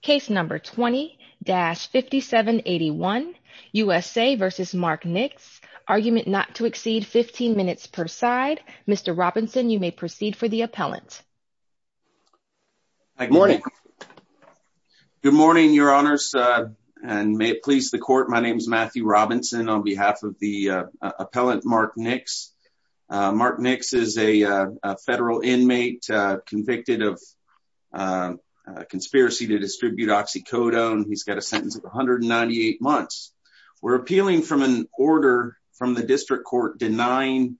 Case No. 20-5781, USA v. Mark Nix, Argument Not to Exceed 15 Minutes per Side. Mr. Robinson, you may proceed for the appellant. Good morning. Good morning, Your Honors, and may it please the Court, my name is Matthew Robinson on behalf of the appellant Mark Nix. Mark Nix is a federal inmate convicted of conspiracy to distribute oxycodone. He's got a sentence of 198 months. We're appealing from an order from the District Court denying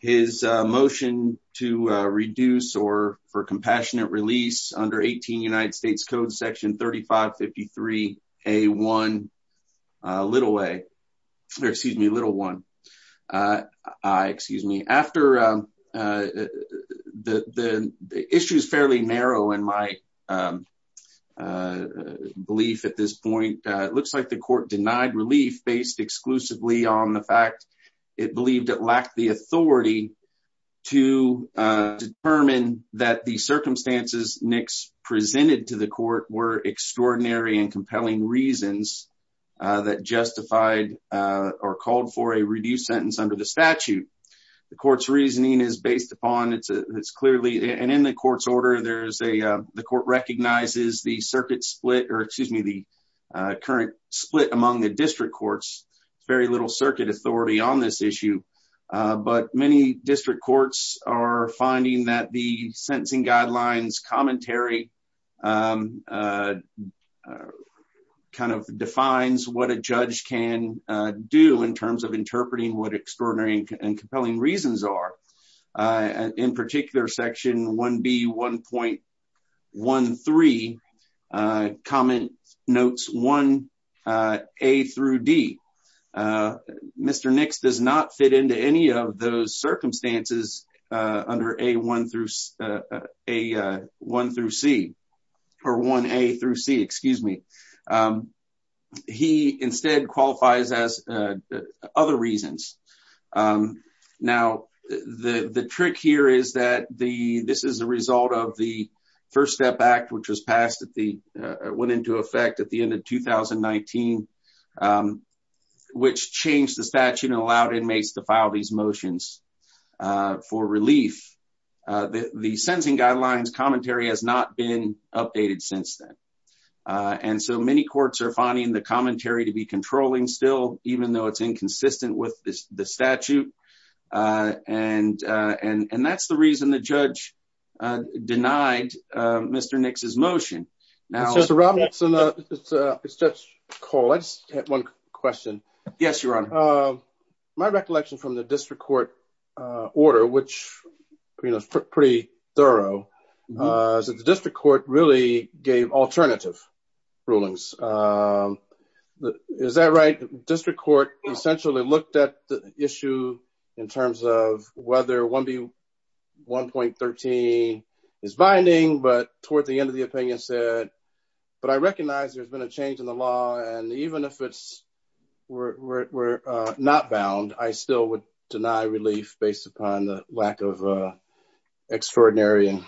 his motion to reduce or for compassionate release under 18 United States Code Section 3553A1, little a, or excuse me, little 1. The issue is fairly narrow in my belief at this point. It looks like the Court denied relief based exclusively on the fact it believed it lacked the authority to determine that the circumstances Nix presented to the Court were extraordinary and compelling reasons that justified or called for a reduced sentence under the statute. The Court's reasoning is based upon, it's clearly, and in the Court's order, there's a, the Court recognizes the circuit split, or excuse me, the current split among the District Courts. There's very little circuit authority on this issue. But many District Courts are finding that the sentencing guidelines commentary kind of defines what a judge can do in terms of interpreting what extraordinary and compelling reasons are. In particular, Section 1B1.13 comment notes 1A through D. Mr. Nix does not fit into any of those circumstances under A1 through C, or 1A through C, excuse me. He instead qualifies as other reasons. Now, the trick here is that the, this is a result of the First Step Act, which was passed at the, went into effect at the end of 2019, which changed the statute and allowed inmates to file these motions for relief. The sentencing guidelines commentary has not been updated since then. And so many courts are finding the commentary to be controlling still, even though it's inconsistent with the statute. And that's the reason the judge denied Mr. Nix's motion. Mr. Robinson, it's Judge Cole. I just had one question. Yes, Your Honor. My recollection from the District Court order, which, you know, is pretty thorough, is that the District Court really gave alternative rulings. Is that right? District Court essentially looked at the issue in terms of whether 1B1.13 is binding, but toward the end of the opinion said, but I recognize there's been a change in the law. And even if it's, we're not bound, I still would deny relief based upon the lack of extraordinary and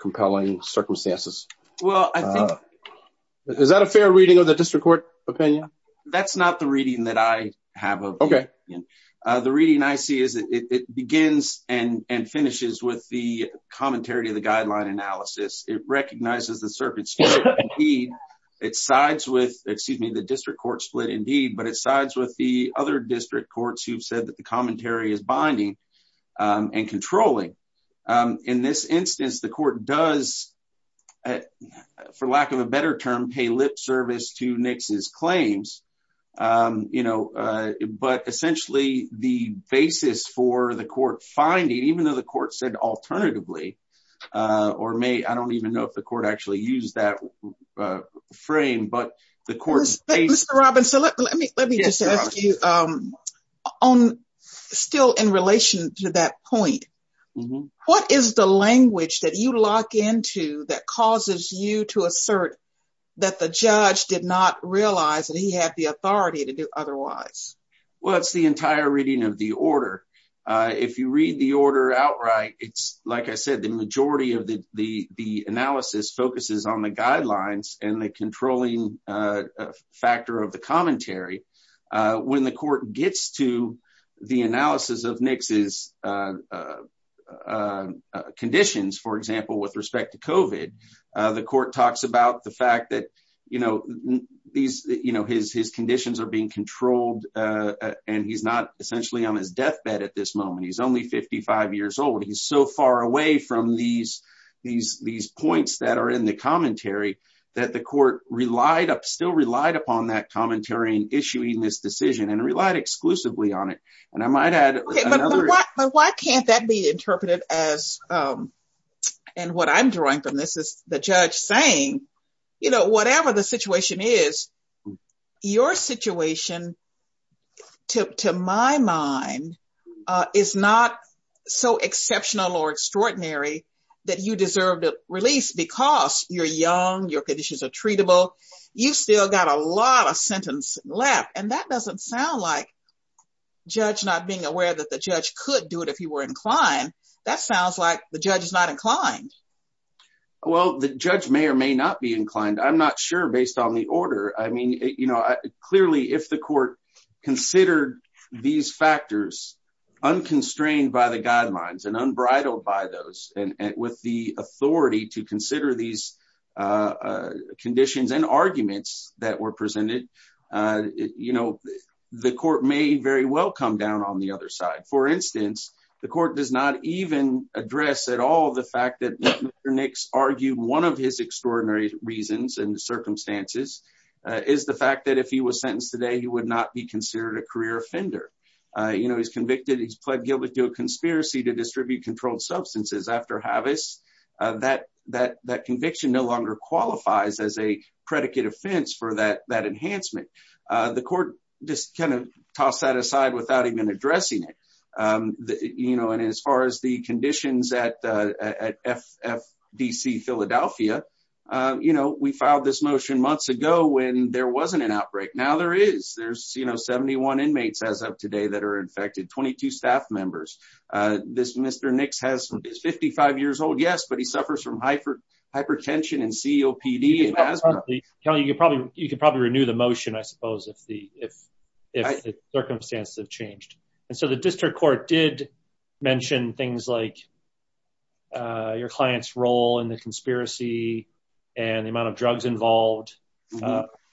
compelling circumstances. Well, I think. Is that a fair reading of the District Court opinion? That's not the reading that I have. Okay. The reading I see is that it begins and finishes with the commentary of the guideline analysis. It recognizes the circuit. It sides with, excuse me, the District Court split indeed, but it sides with the other district courts who've said that the commentary is binding and controlling. In this instance, the court does, for lack of a better term, pay lip service to Nix's claims. You know, but essentially the basis for the court finding, even though the court said alternatively, or may, I don't even know if the court actually used that frame, but the court. Mr. Robbins, let me just ask you, still in relation to that point, what is the language that you lock into that causes you to assert that the judge did not realize that he had the authority to do otherwise? Well, it's the entire reading of the order. If you read the order outright, it's like I said, the majority of the analysis focuses on the guidelines and the controlling factor of the commentary. When the court gets to the analysis of Nix's conditions, for example, with respect to COVID, the court talks about the fact that his conditions are being controlled and he's not essentially on his deathbed at this moment. He's only 55 years old. He's so far away from these points that are in the commentary that the court still relied upon that commentary in issuing this decision and relied exclusively on it. But why can't that be interpreted as, and what I'm drawing from this is the judge saying, you know, whatever the situation is, your situation, to my mind, is not so exceptional or extraordinary that you deserve to release because you're young, your conditions are treatable. You've still got a lot of sentence left. And that doesn't sound like judge not being aware that the judge could do it if he were inclined. That sounds like the judge is not inclined. Well, the judge may or may not be inclined. I'm not sure based on the order. I mean, you know, clearly, if the court considered these factors unconstrained by the guidelines and unbridled by those and with the authority to consider these conditions and arguments that were presented, you know, the court may very well come down on the other side. For instance, the court does not even address at all the fact that Mr. Nix argued one of his extraordinary reasons and circumstances is the fact that if he was sentenced today, he would not be considered a career offender. You know, he's convicted, he's pled guilty to a conspiracy to distribute controlled substances after harvest. That conviction no longer qualifies as a predicate offense for that enhancement. The court just kind of tossed that aside without even addressing it. You know, and as far as the conditions at FDC Philadelphia, you know, we filed this motion months ago when there wasn't an outbreak. Now there is. There's, you know, 71 inmates as of today that are infected, 22 staff members. This Mr. Nix is 55 years old, yes, but he suffers from hypertension and COPD and asthma. You can probably renew the motion, I suppose, if the circumstances have changed. And so the district court did mention things like your client's role in the conspiracy and the amount of drugs involved.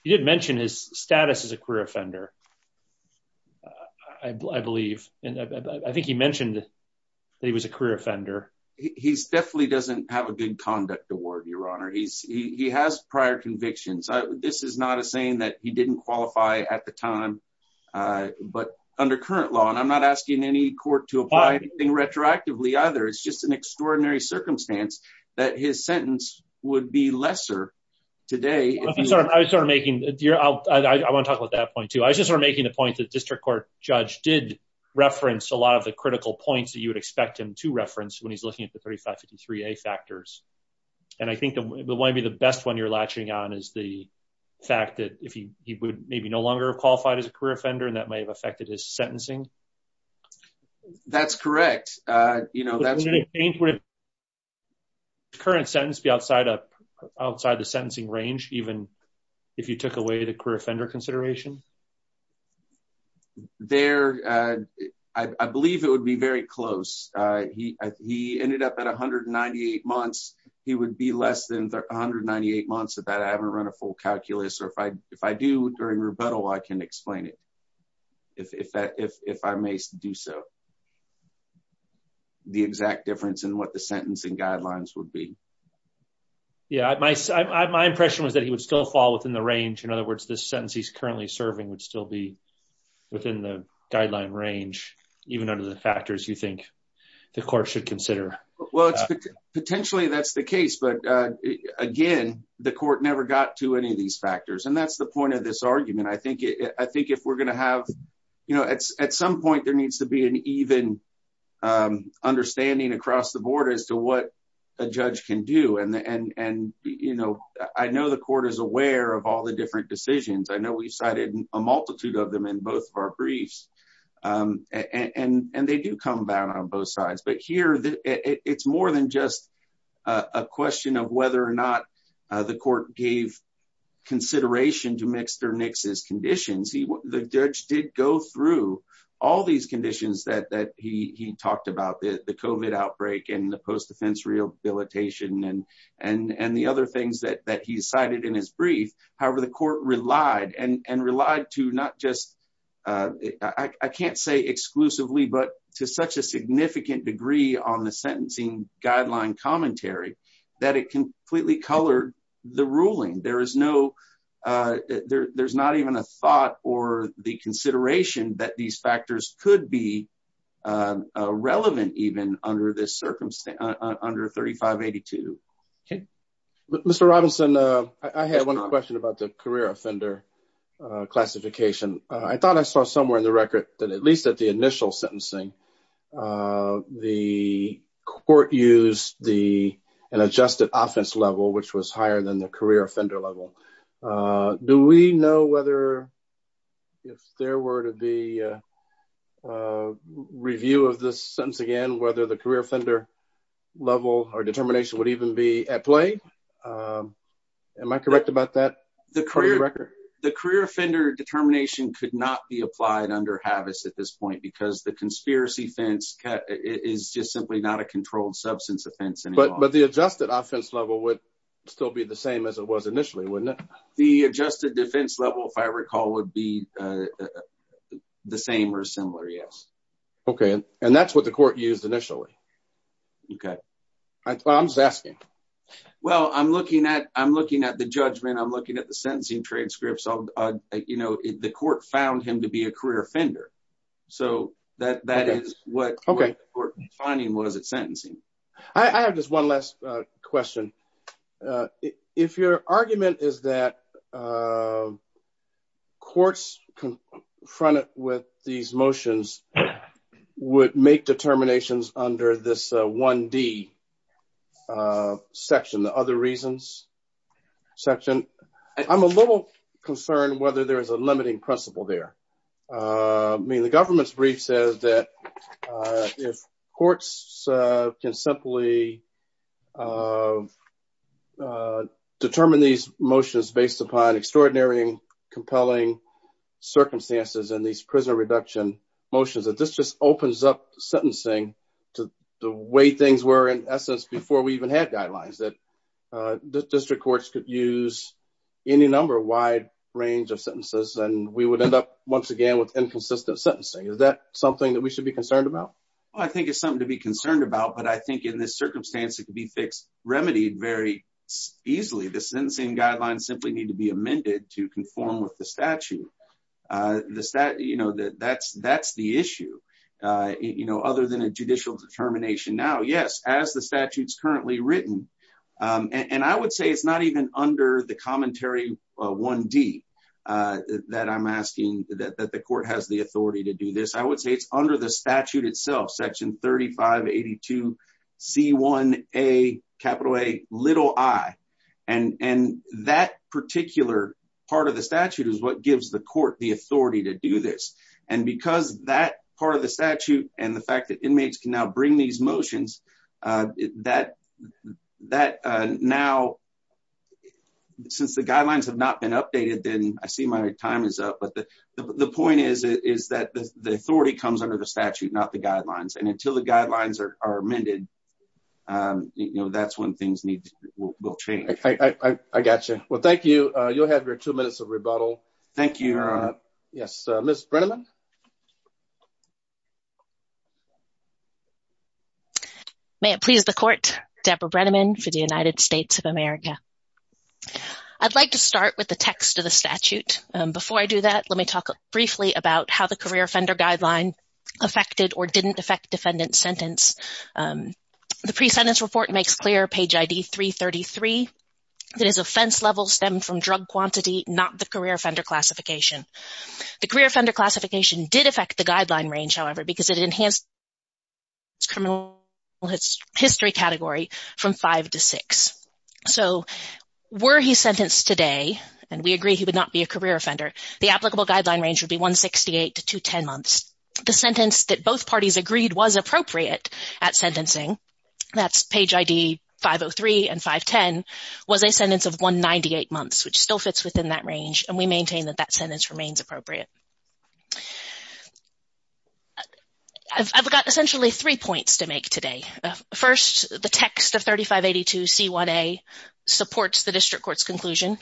He did mention his status as a career offender, I believe. And I think he mentioned that he was a career offender. He definitely doesn't have a good conduct award, Your Honor. He has prior convictions. This is not a saying that he didn't qualify at the time. But under current law, and I'm not asking any court to apply anything retroactively either. It's just an extraordinary circumstance that his sentence would be lesser today. I want to talk about that point too. I was just sort of making the point that district court judge did reference a lot of the critical points that you would expect him to reference when he's looking at the 3553A factors. And I think that might be the best one you're latching on is the fact that if he would maybe no longer have qualified as a career offender, and that may have affected his sentencing. That's correct. Would the current sentence be outside the sentencing range, even if you took away the career offender consideration? There, I believe it would be very close. He ended up at 198 months, he would be less than 198 months of that I haven't run a full calculus or if I do during rebuttal I can explain it. If I may do so. The exact difference in what the sentencing guidelines would be. Yeah, my impression was that he would still fall within the range. In other words, this sentence he's currently serving would still be within the guideline range, even under the factors you think the court should consider. Potentially, that's the case. But again, the court never got to any of these factors. And that's the point of this argument. I think if we're going to have, you know, at some point there needs to be an even understanding across the board as to what a judge can do. And, you know, I know the court is aware of all the different decisions. I know we've cited a multitude of them in both of our briefs. And they do come down on both sides. But here, it's more than just a question of whether or not the court gave consideration to Mixter Nix's conditions. The judge did go through all these conditions that that he talked about the COVID outbreak and the post defense rehabilitation and and and the other things that that he cited in his brief. However, the court relied and relied to not just I can't say exclusively, but to such a significant degree on the sentencing guideline commentary that it completely colored the ruling. There is no There's not even a thought or the consideration that these factors could be Relevant even under this circumstance under 3582 Okay, Mr. Robinson. I had one question about the career offender classification. I thought I saw somewhere in the record that at least at the initial sentencing. The court use the adjusted offense level, which was higher than the career offender level. Do we know whether if there were to be Review of this sentence again, whether the career offender level or determination would even be at play. Am I correct about that. The career. The career offender determination could not be applied under habits at this point because the conspiracy fence is just simply not a controlled substance offense and But, but the adjusted offense level would still be the same as it was initially wouldn't The adjusted defense level, if I recall, would be The same or similar. Yes. Okay. And that's what the court used initially Okay. I'm just asking Well, I'm looking at. I'm looking at the judgment. I'm looking at the sentencing transcripts on, you know, the court found him to be a career offender. So that that is what Okay, we're Finding was it sentencing. I have just one last question. If your argument is that Courts confronted with these motions would make determinations under this one D. Section. The other reasons section. I'm a little concerned whether there is a limiting principle there. I mean, the government's brief says that if courts can simply Determine these motions based upon extraordinary and compelling circumstances and these prison reduction motions that this just opens up sentencing to the way things were in essence before we even had guidelines that District courts could use any number of wide range of sentences and we would end up once again with inconsistent sentencing. Is that something that we should be concerned about? I think it's something to be concerned about. But I think in this circumstance, it could be fixed remedied very easily the sentencing guidelines simply need to be amended to conform with the statute. The stat, you know that that's that's the issue, you know, other than a judicial determination. Now, yes, as the statutes currently written and I would say it's not even under the commentary one D. That I'm asking that the court has the authority to do this. I would say it's under the statute itself section 3582 C1 a capital a little I And and that particular part of the statute is what gives the court, the authority to do this. And because that part of the statute and the fact that inmates can now bring these motions that that now. Since the guidelines have not been updated, then I see my time is up. But the point is, is that the authority comes under the statute, not the guidelines and until the guidelines are amended. You know, that's when things need will change. I gotcha. Well, thank you. You'll have your two minutes of rebuttal. Thank you. Yes, Miss Brenneman. May it please the court Deborah Brenneman for the United States of America. I'd like to start with the text of the statute. Before I do that, let me talk briefly about how the career offender guideline affected or didn't affect defendant sentence. The pre sentence report makes clear page ID 333 that is offense level stemmed from drug quantity, not the career offender classification. The career offender classification did affect the guideline range, however, because it enhanced criminal history category from five to six. So were he sentenced today, and we agree he would not be a career offender, the applicable guideline range would be 168 to 210 months. The sentence that both parties agreed was appropriate at sentencing. That's page ID 503 and 510 was a sentence of 198 months, which still fits within that range, and we maintain that that sentence remains appropriate. I've got essentially three points to make today. First, the text of 3582 C1A supports the district court's conclusion.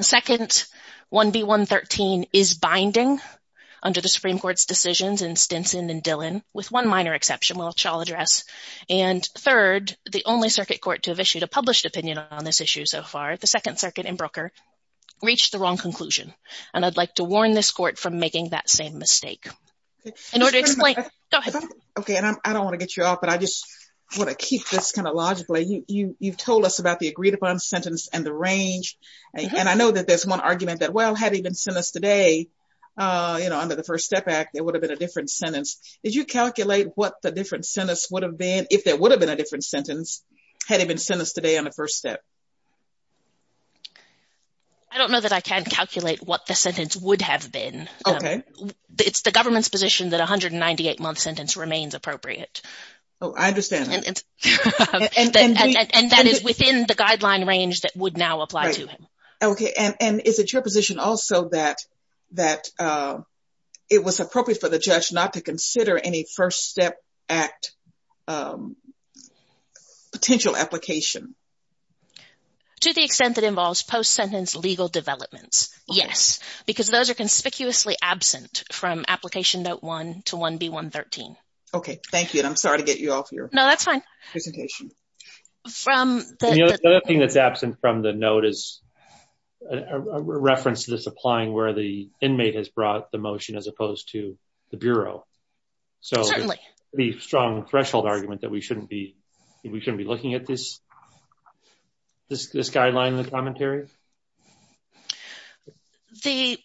Second, 1B113 is binding under the Supreme Court's decisions in Stinson and Dillon, with one minor exception which I'll address. And third, the only circuit court to have issued a published opinion on this issue so far, the Second Circuit in Brooker, reached the wrong conclusion. And I'd like to warn this court from making that same mistake. Okay, and I don't want to get you off, but I just want to keep this kind of logically. You've told us about the agreed upon sentence and the range. And I know that there's one argument that, well, had he been sentenced today, you know, under the First Step Act, there would have been a different sentence. Did you calculate what the different sentence would have been if there would have been a different sentence had he been sentenced today on the first step? I don't know that I can calculate what the sentence would have been. It's the government's position that a 198-month sentence remains appropriate. Oh, I understand. And that is within the guideline range that would now apply to him. Okay, and is it your position also that it was appropriate for the judge not to consider any First Step Act potential application? To the extent that involves post-sentence legal developments, yes. Because those are conspicuously absent from Application Note 1 to 1B113. Okay, thank you, and I'm sorry to get you off your presentation. No, that's fine. The other thing that's absent from the note is a reference to this applying where the inmate has brought the motion as opposed to the Bureau. Certainly. The strong threshold argument that we shouldn't be looking at this guideline in the commentary? The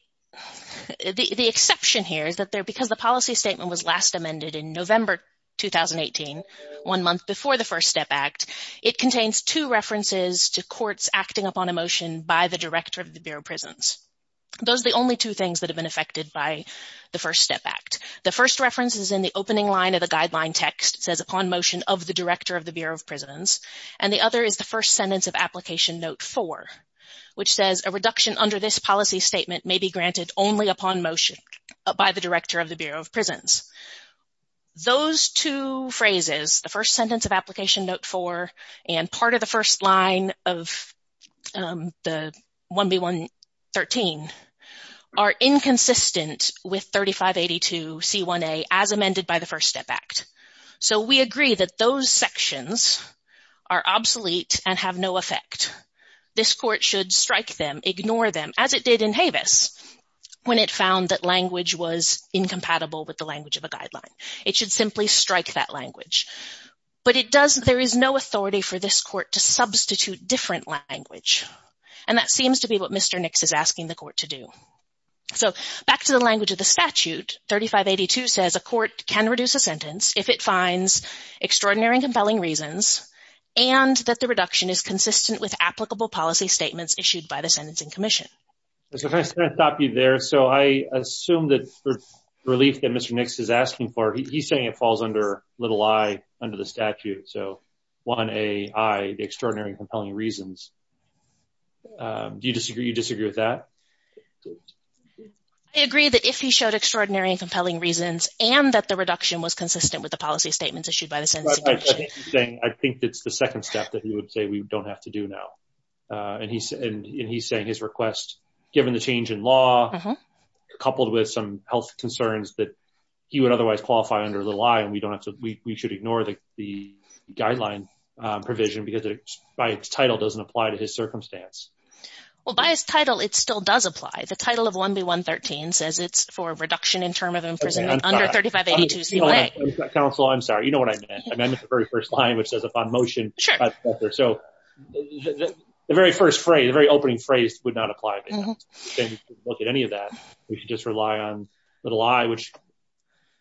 exception here is that because the policy statement was last amended in November 2018, one month before the First Step Act, it contains two references to courts acting upon a motion by the director of the Bureau of Prisons. Those are the only two things that have been affected by the First Step Act. The first reference is in the opening line of the guideline text. It says, upon motion of the director of the Bureau of Prisons. And the other is the first sentence of Application Note 4, which says, a reduction under this policy statement may be granted only upon motion by the director of the Bureau of Prisons. Those two phrases, the first sentence of Application Note 4 and part of the first line of the 1B113, are inconsistent with 3582C1A as amended by the First Step Act. So we agree that those sections are obsolete and have no effect. This Court should strike them, ignore them, as it did in Havis, when it found that language was incompatible with the language of a guideline. It should simply strike that language. But there is no authority for this Court to substitute different language. And that seems to be what Mr. Nix is asking the Court to do. So back to the language of the statute, 3582 says, a court can reduce a sentence if it finds extraordinary and compelling reasons and that the reduction is consistent with applicable policy statements issued by the Sentencing Commission. So can I stop you there? So I assume that for the relief that Mr. Nix is asking for, he's saying it falls under little i under the statute. So 1A, i, the extraordinary and compelling reasons. Do you disagree with that? I agree that if he showed extraordinary and compelling reasons I think that's the second step that he would say we don't have to do now. And he's saying his request, given the change in law, coupled with some health concerns that he would otherwise qualify under little i and we should ignore the guideline provision because by its title doesn't apply to his circumstance. Well, by its title, it still does apply. The title of 1B113 says it's for reduction in term of imprisonment under 3582CLA. Counsel, I'm sorry. You know what I meant. I meant the very first line which says upon motion. So the very first phrase, the very opening phrase would not apply. Look at any of that. We should just rely on little i which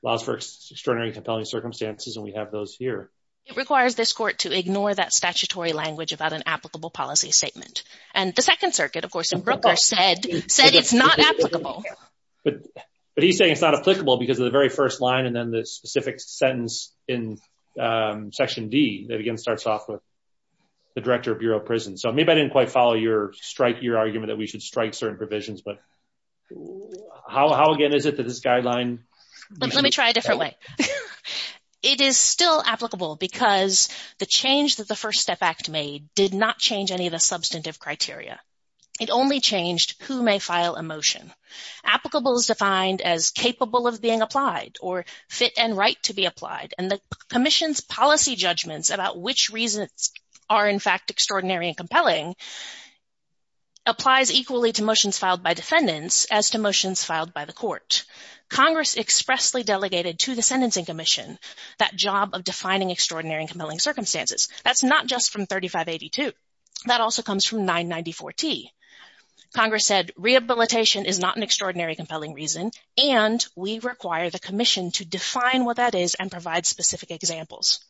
allows for extraordinary and compelling circumstances and we have those here. It requires this court to ignore that statutory language about an applicable policy statement. And the Second Circuit, of course, in Brooker said it's not applicable. But he's saying it's not applicable because of the very first line and then the specific sentence in Section D that again starts off with the Director of Bureau of Prison. So maybe I didn't quite follow your argument that we should strike certain provisions, but how again is it that this guideline? Let me try a different way. It is still applicable because the change that the First Step Act made did not change any of the substantive criteria. It only changed who may file a motion. Applicable is defined as capable of being applied fit and right to be applied and the Commission's policy judgments about which reasons are in fact extraordinary and compelling applies equally to motions filed by defendants as to motions filed by the court. Congress expressly delegated to the Sentencing Commission that job of defining extraordinary and compelling circumstances. That's not just from 3582. That also comes from 994T. Congress said rehabilitation is not an extraordinary compelling reason and we require the Commission to define what that is and provide specific examples.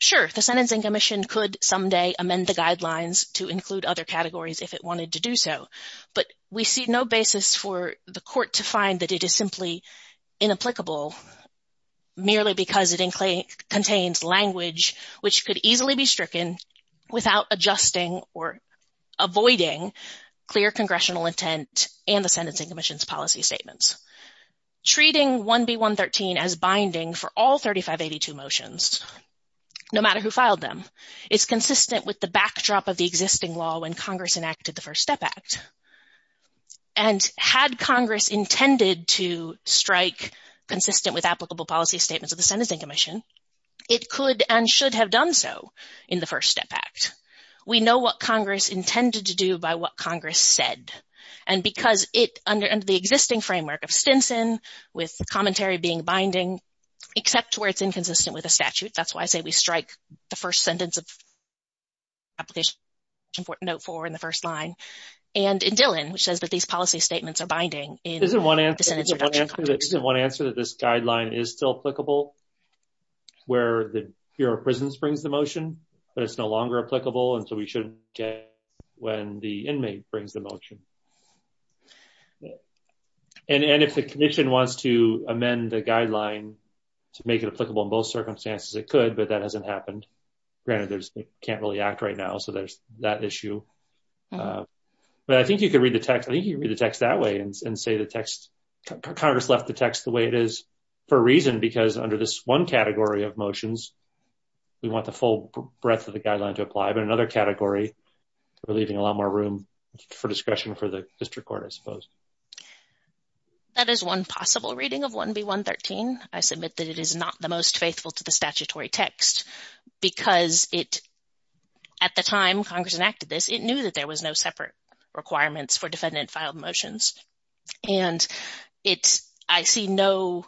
Sure, the Sentencing Commission could someday amend the guidelines to include other categories if it wanted to do so, but we see no basis for the court to find that it is simply inapplicable merely because it contains language which could easily be stricken without adjusting or avoiding clear congressional intent and the Sentencing Commission's policy statements. Treating 1B.113 as binding for all 3582 motions, no matter who filed them, is consistent with the backdrop of the existing law when Congress enacted the First Step Act. And had Congress intended to strike consistent with applicable policy statements of the Sentencing Commission, it could and should have done so in the First Step Act. We know what Congress intended to do by what Congress said because it, under the existing framework of Stinson, with commentary being binding, except where it's inconsistent with the statute. That's why I say we strike the first sentence of application for note 4 in the first line. And in Dillon, which says that these policy statements are binding in the sentence reduction context. Isn't one answer that this guideline is still applicable where the Bureau of Prisons brings the motion, but it's no longer applicable and so we shouldn't get it when the inmate brings the motion? And if the Commission wants to amend the guideline to make it applicable in both circumstances, it could, but that hasn't happened. Granted, it can't really act right now, so there's that issue. But I think you could read the text that way and say Congress left the text the way it is for a reason because under this one category of motions, we want the full breadth of the guideline to apply, but another category, we're leaving a lot more room for discretion for the district court, I suppose. That is one possible reading of 1B.113. I submit that it is not the most faithful to the statutory text because at the time Congress enacted this, it knew that there was no separate requirements for defendant-filed motions. And I see no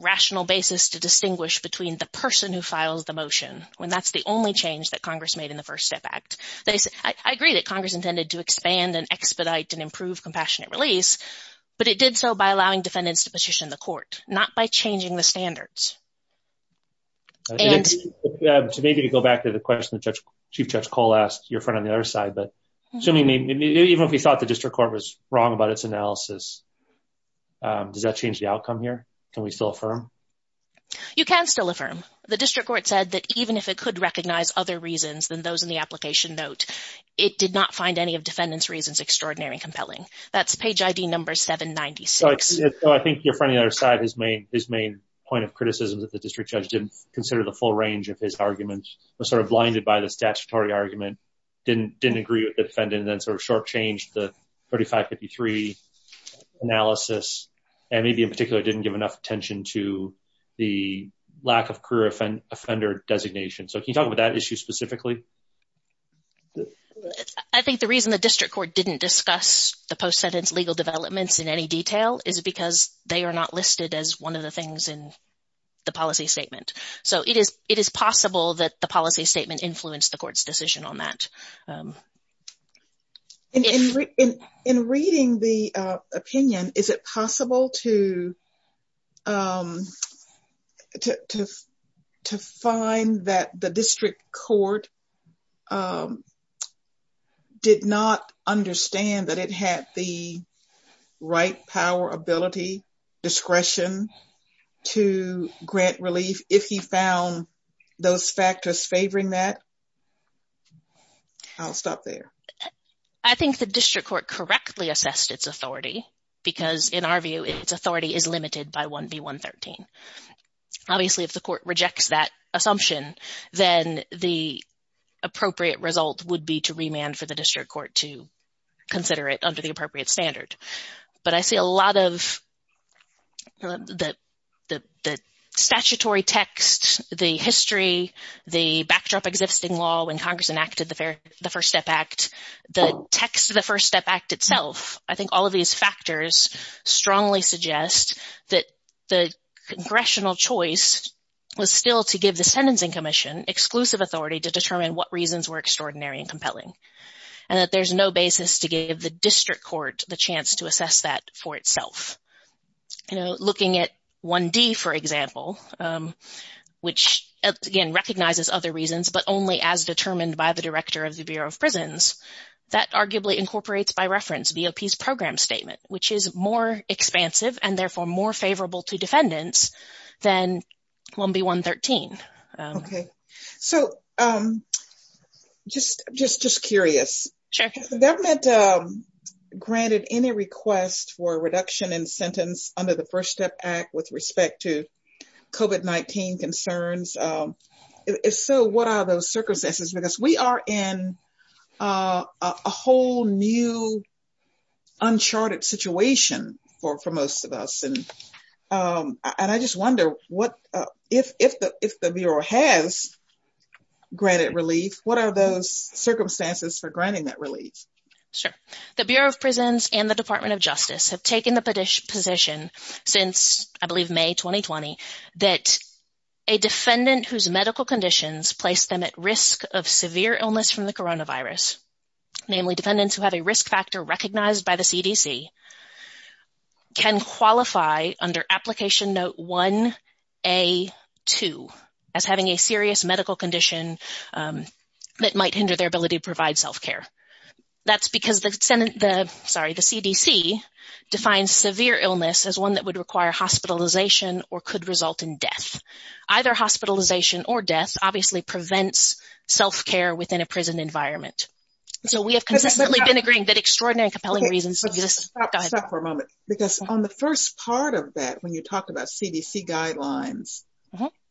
rational basis to distinguish between the person who files the motion when that's the only change that Congress made in the First Step Act. I agree that Congress intended to expand and expedite and improve compassionate release, but it did so by allowing defendants to petition the court, not by changing the standards. And... So maybe to go back to the question that Chief Judge Cole asked, your friend on the other side, but assuming, even if we thought the district court was wrong about its analysis, does that change the outcome here? Can we still affirm? You can still affirm. The district court said that even if it could recognize other reasons than those in the application note, it did not find any of defendants' reasons extraordinary and compelling. That's page ID number 796. So I think your friend on the other side, his main point of criticism is that the district judge didn't consider the full range of his arguments, was sort of blinded by the statutory argument, didn't agree with the defendant, and then sort of short-changed the 3553 analysis, and maybe in particular didn't give enough attention to the lack of career offender designation. So can you talk about that issue specifically? I think the reason the district court didn't discuss the post-sentence legal developments in any detail is because they are not listed as one of the things in the policy statement. So it is possible that the policy statement influenced the court's decision on that. In reading the opinion, is it possible to... that the district court did not understand that it had the right power, ability, discretion to grant relief if he found those factors favoring that? I'll stop there. I think the district court correctly assessed its authority because in our view, its authority is limited by 1B113. Obviously, if the court rejects that assumption, then the appropriate result would be to remand for the district court to consider it under the appropriate standard. But I see a lot of the statutory text, the history, the backdrop existing law when Congress enacted the First Step Act, the text of the First Step Act itself. I think all of these factors strongly suggest that the congressional choice was still to give the sentencing commission exclusive authority to determine what reasons were extraordinary and compelling, and that there's no basis to give the district court the chance to assess that for itself. You know, looking at 1D, for example, which, again, recognizes other reasons, but only as determined by the director of the Bureau of Prisons, that arguably incorporates by reference BOP's program statement, which is more expansive and therefore more favorable to defendants than 1B113. Okay. So, just curious. Sure. If the government granted any request for reduction in sentence under the First Step Act with respect to COVID-19 concerns, so what are those circumstances? Because we are in a whole new uncharted situation for most of us. And I just wonder, if the Bureau has granted relief, what are those circumstances for granting that relief? Sure. The Bureau of Prisons and the Department of Justice have taken the position since, I believe, May 2020 that a defendant whose medical conditions place them at risk of severe illness from the coronavirus, namely defendants who have a risk factor recognized by the CDC, can qualify under Application Note 1A2 as having a serious medical condition that might hinder their ability to provide self-care. That's because the CDC defines severe illness as one that would require hospitalization or could result in death. Either hospitalization or death obviously prevents self-care within a prison environment. So we have consistently been agreeing that extraordinary and compelling reasons stop for a moment. Because on the first part of that, when you talk about CDC guidelines,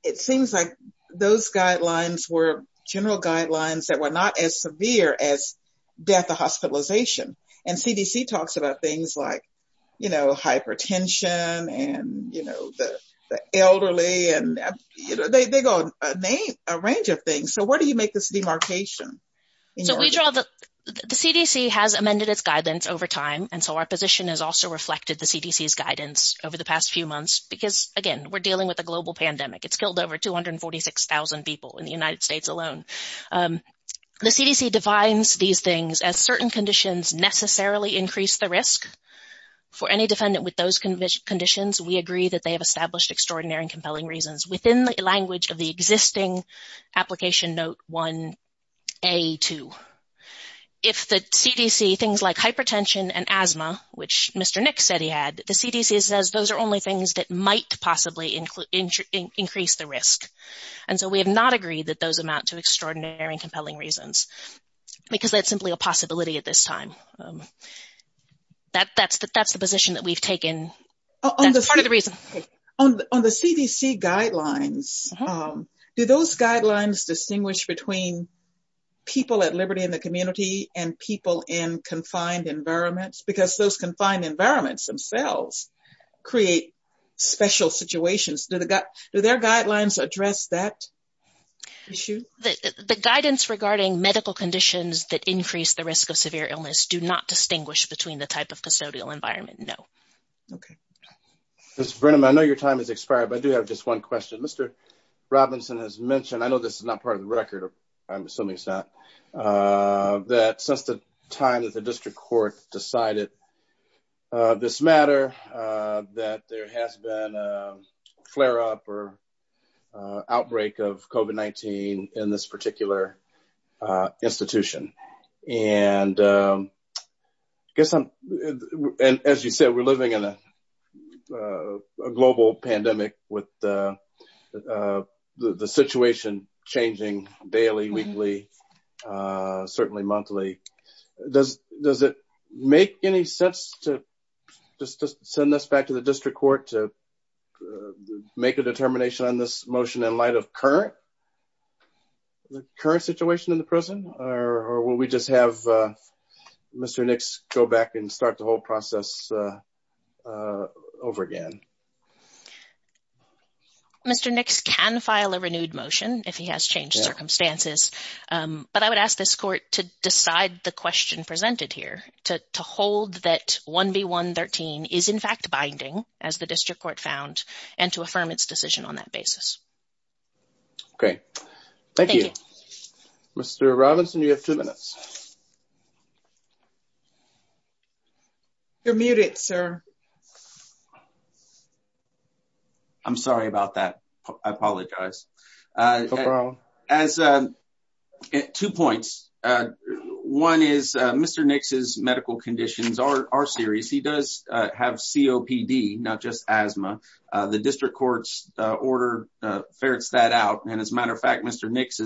it seems like those guidelines were general guidelines that were not as severe as death or hospitalization. And CDC talks about things like hypertension and the elderly. They go on a range of things. So where do you make this demarcation? The CDC has amended its guidance over time. And so our position has also reflected the CDC's guidance over the past few months. Because again, we're dealing with a global pandemic. It's killed over 246,000 people in the United States alone. The CDC defines these things as certain conditions necessarily increase the risk. For any defendant with those conditions, we agree that they have established extraordinary and compelling reasons within the language of the existing application note 1A2. If the CDC, things like hypertension and asthma, which Mr. Nick said he had, the CDC says those are only things that might possibly increase the risk. And so we have not agreed that those amount to extraordinary and compelling reasons. Because that's simply a possibility at this time. That's the position that we've taken. That's part of the reason. On the CDC guidelines, do those guidelines distinguish between people at liberty in the community and people in confined environments? Because those confined environments themselves create special situations. Do their guidelines address that issue? The guidance regarding medical conditions that increase the risk of severe illness do not distinguish between the type of custodial environment, no. Okay. Madam, I know your time has expired, but I do have just one question. Mr. Robinson has mentioned, I know this is not part of the record, I'm assuming it's not, that since the time that the district court decided this matter, that there has been a flare-up or outbreak of COVID-19 in this particular institution. And as you said, we're living in a global pandemic with the situation changing daily, weekly, certainly monthly. Does it make any sense to send this back to the district court to make a determination on this motion in light of the current situation in the prison? Or will we just have Mr. Nix go back and start the whole process over again? Mr. Nix can file a renewed motion if he has changed circumstances. But I would ask this court to decide the question presented here, to hold that 1B.1.13 is in fact binding, as the district court found, and to affirm its decision on that basis. Okay. Thank you. Mr. Robinson, you have two minutes. You're muted, sir. I'm sorry about that. I apologize. No problem. Two points. One is Mr. Nix's medical conditions are serious. He does have COPD, not just asthma. The district court's order ferrets that out. And as a matter of fact, Mr. Nix,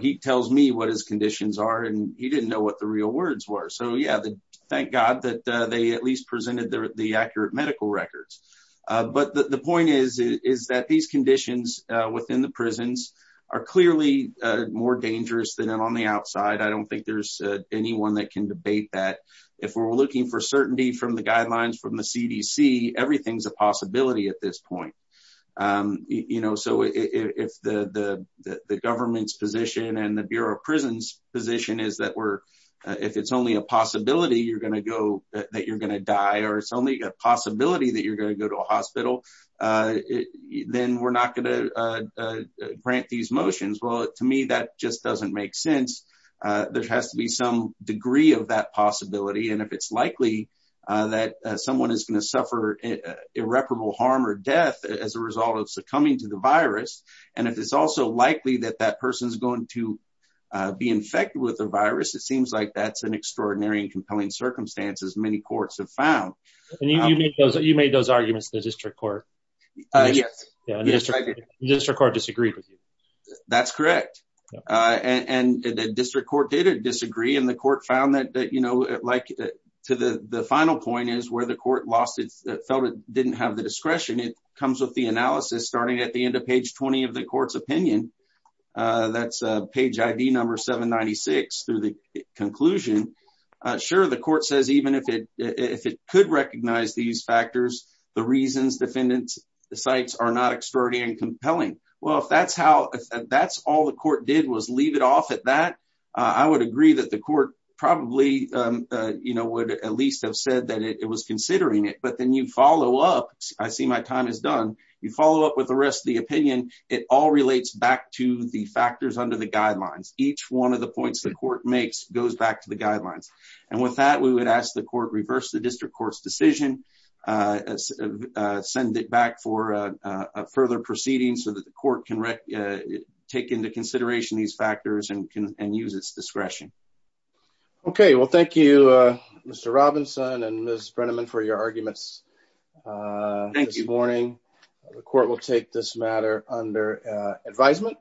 he tells me what his conditions are and he didn't know what the real words were. So, yeah, thank God that they at least presented the accurate medical records. But the point is that these conditions within the prisons are clearly more dangerous than on the outside. I don't think there's anyone that can debate that. If we're looking for certainty from the guidelines from the CDC, everything's a possibility at this point. You know, so if the government's position and the Bureau of Prisons' position is that if it's only a possibility that you're going to die or it's only a possibility that you're going to go to a hospital, then we're not going to grant these motions. Well, to me, that just doesn't make sense. There has to be some degree of that possibility. And if it's likely that someone is going to suffer irreparable harm or death as a result of succumbing to the virus, and if it's also likely that that person is going to be infected with the virus, it seems like that's an extraordinary and compelling circumstance as many courts have found. And you made those arguments in the district court. Yes. The district court disagreed with you. That's correct. And the district court did disagree, and the court found that, you know, like to the final point is where the court felt it didn't have the discretion. It comes with the analysis starting at the end of page 20 of the court's opinion that's page ID number 796 through the conclusion. Sure, the court says, even if it could recognize these factors, the reasons defendants cite are not extraordinary and compelling. Well, if that's all the court did was leave it off at that, I would agree that the court probably, you know, would at least have said that it was considering it. But then you follow up. I see my time is done. You follow up with the rest of the opinion. The factors under the guidelines, each one of the points the court makes goes back to the guidelines. And with that, we would ask the court reverse the district court's decision, send it back for a further proceeding so that the court can take into consideration these factors and can use its discretion. Okay, well, thank you, Mr. Robinson and Ms. Brenneman for your arguments. Thank you. The court will take this matter under advisement.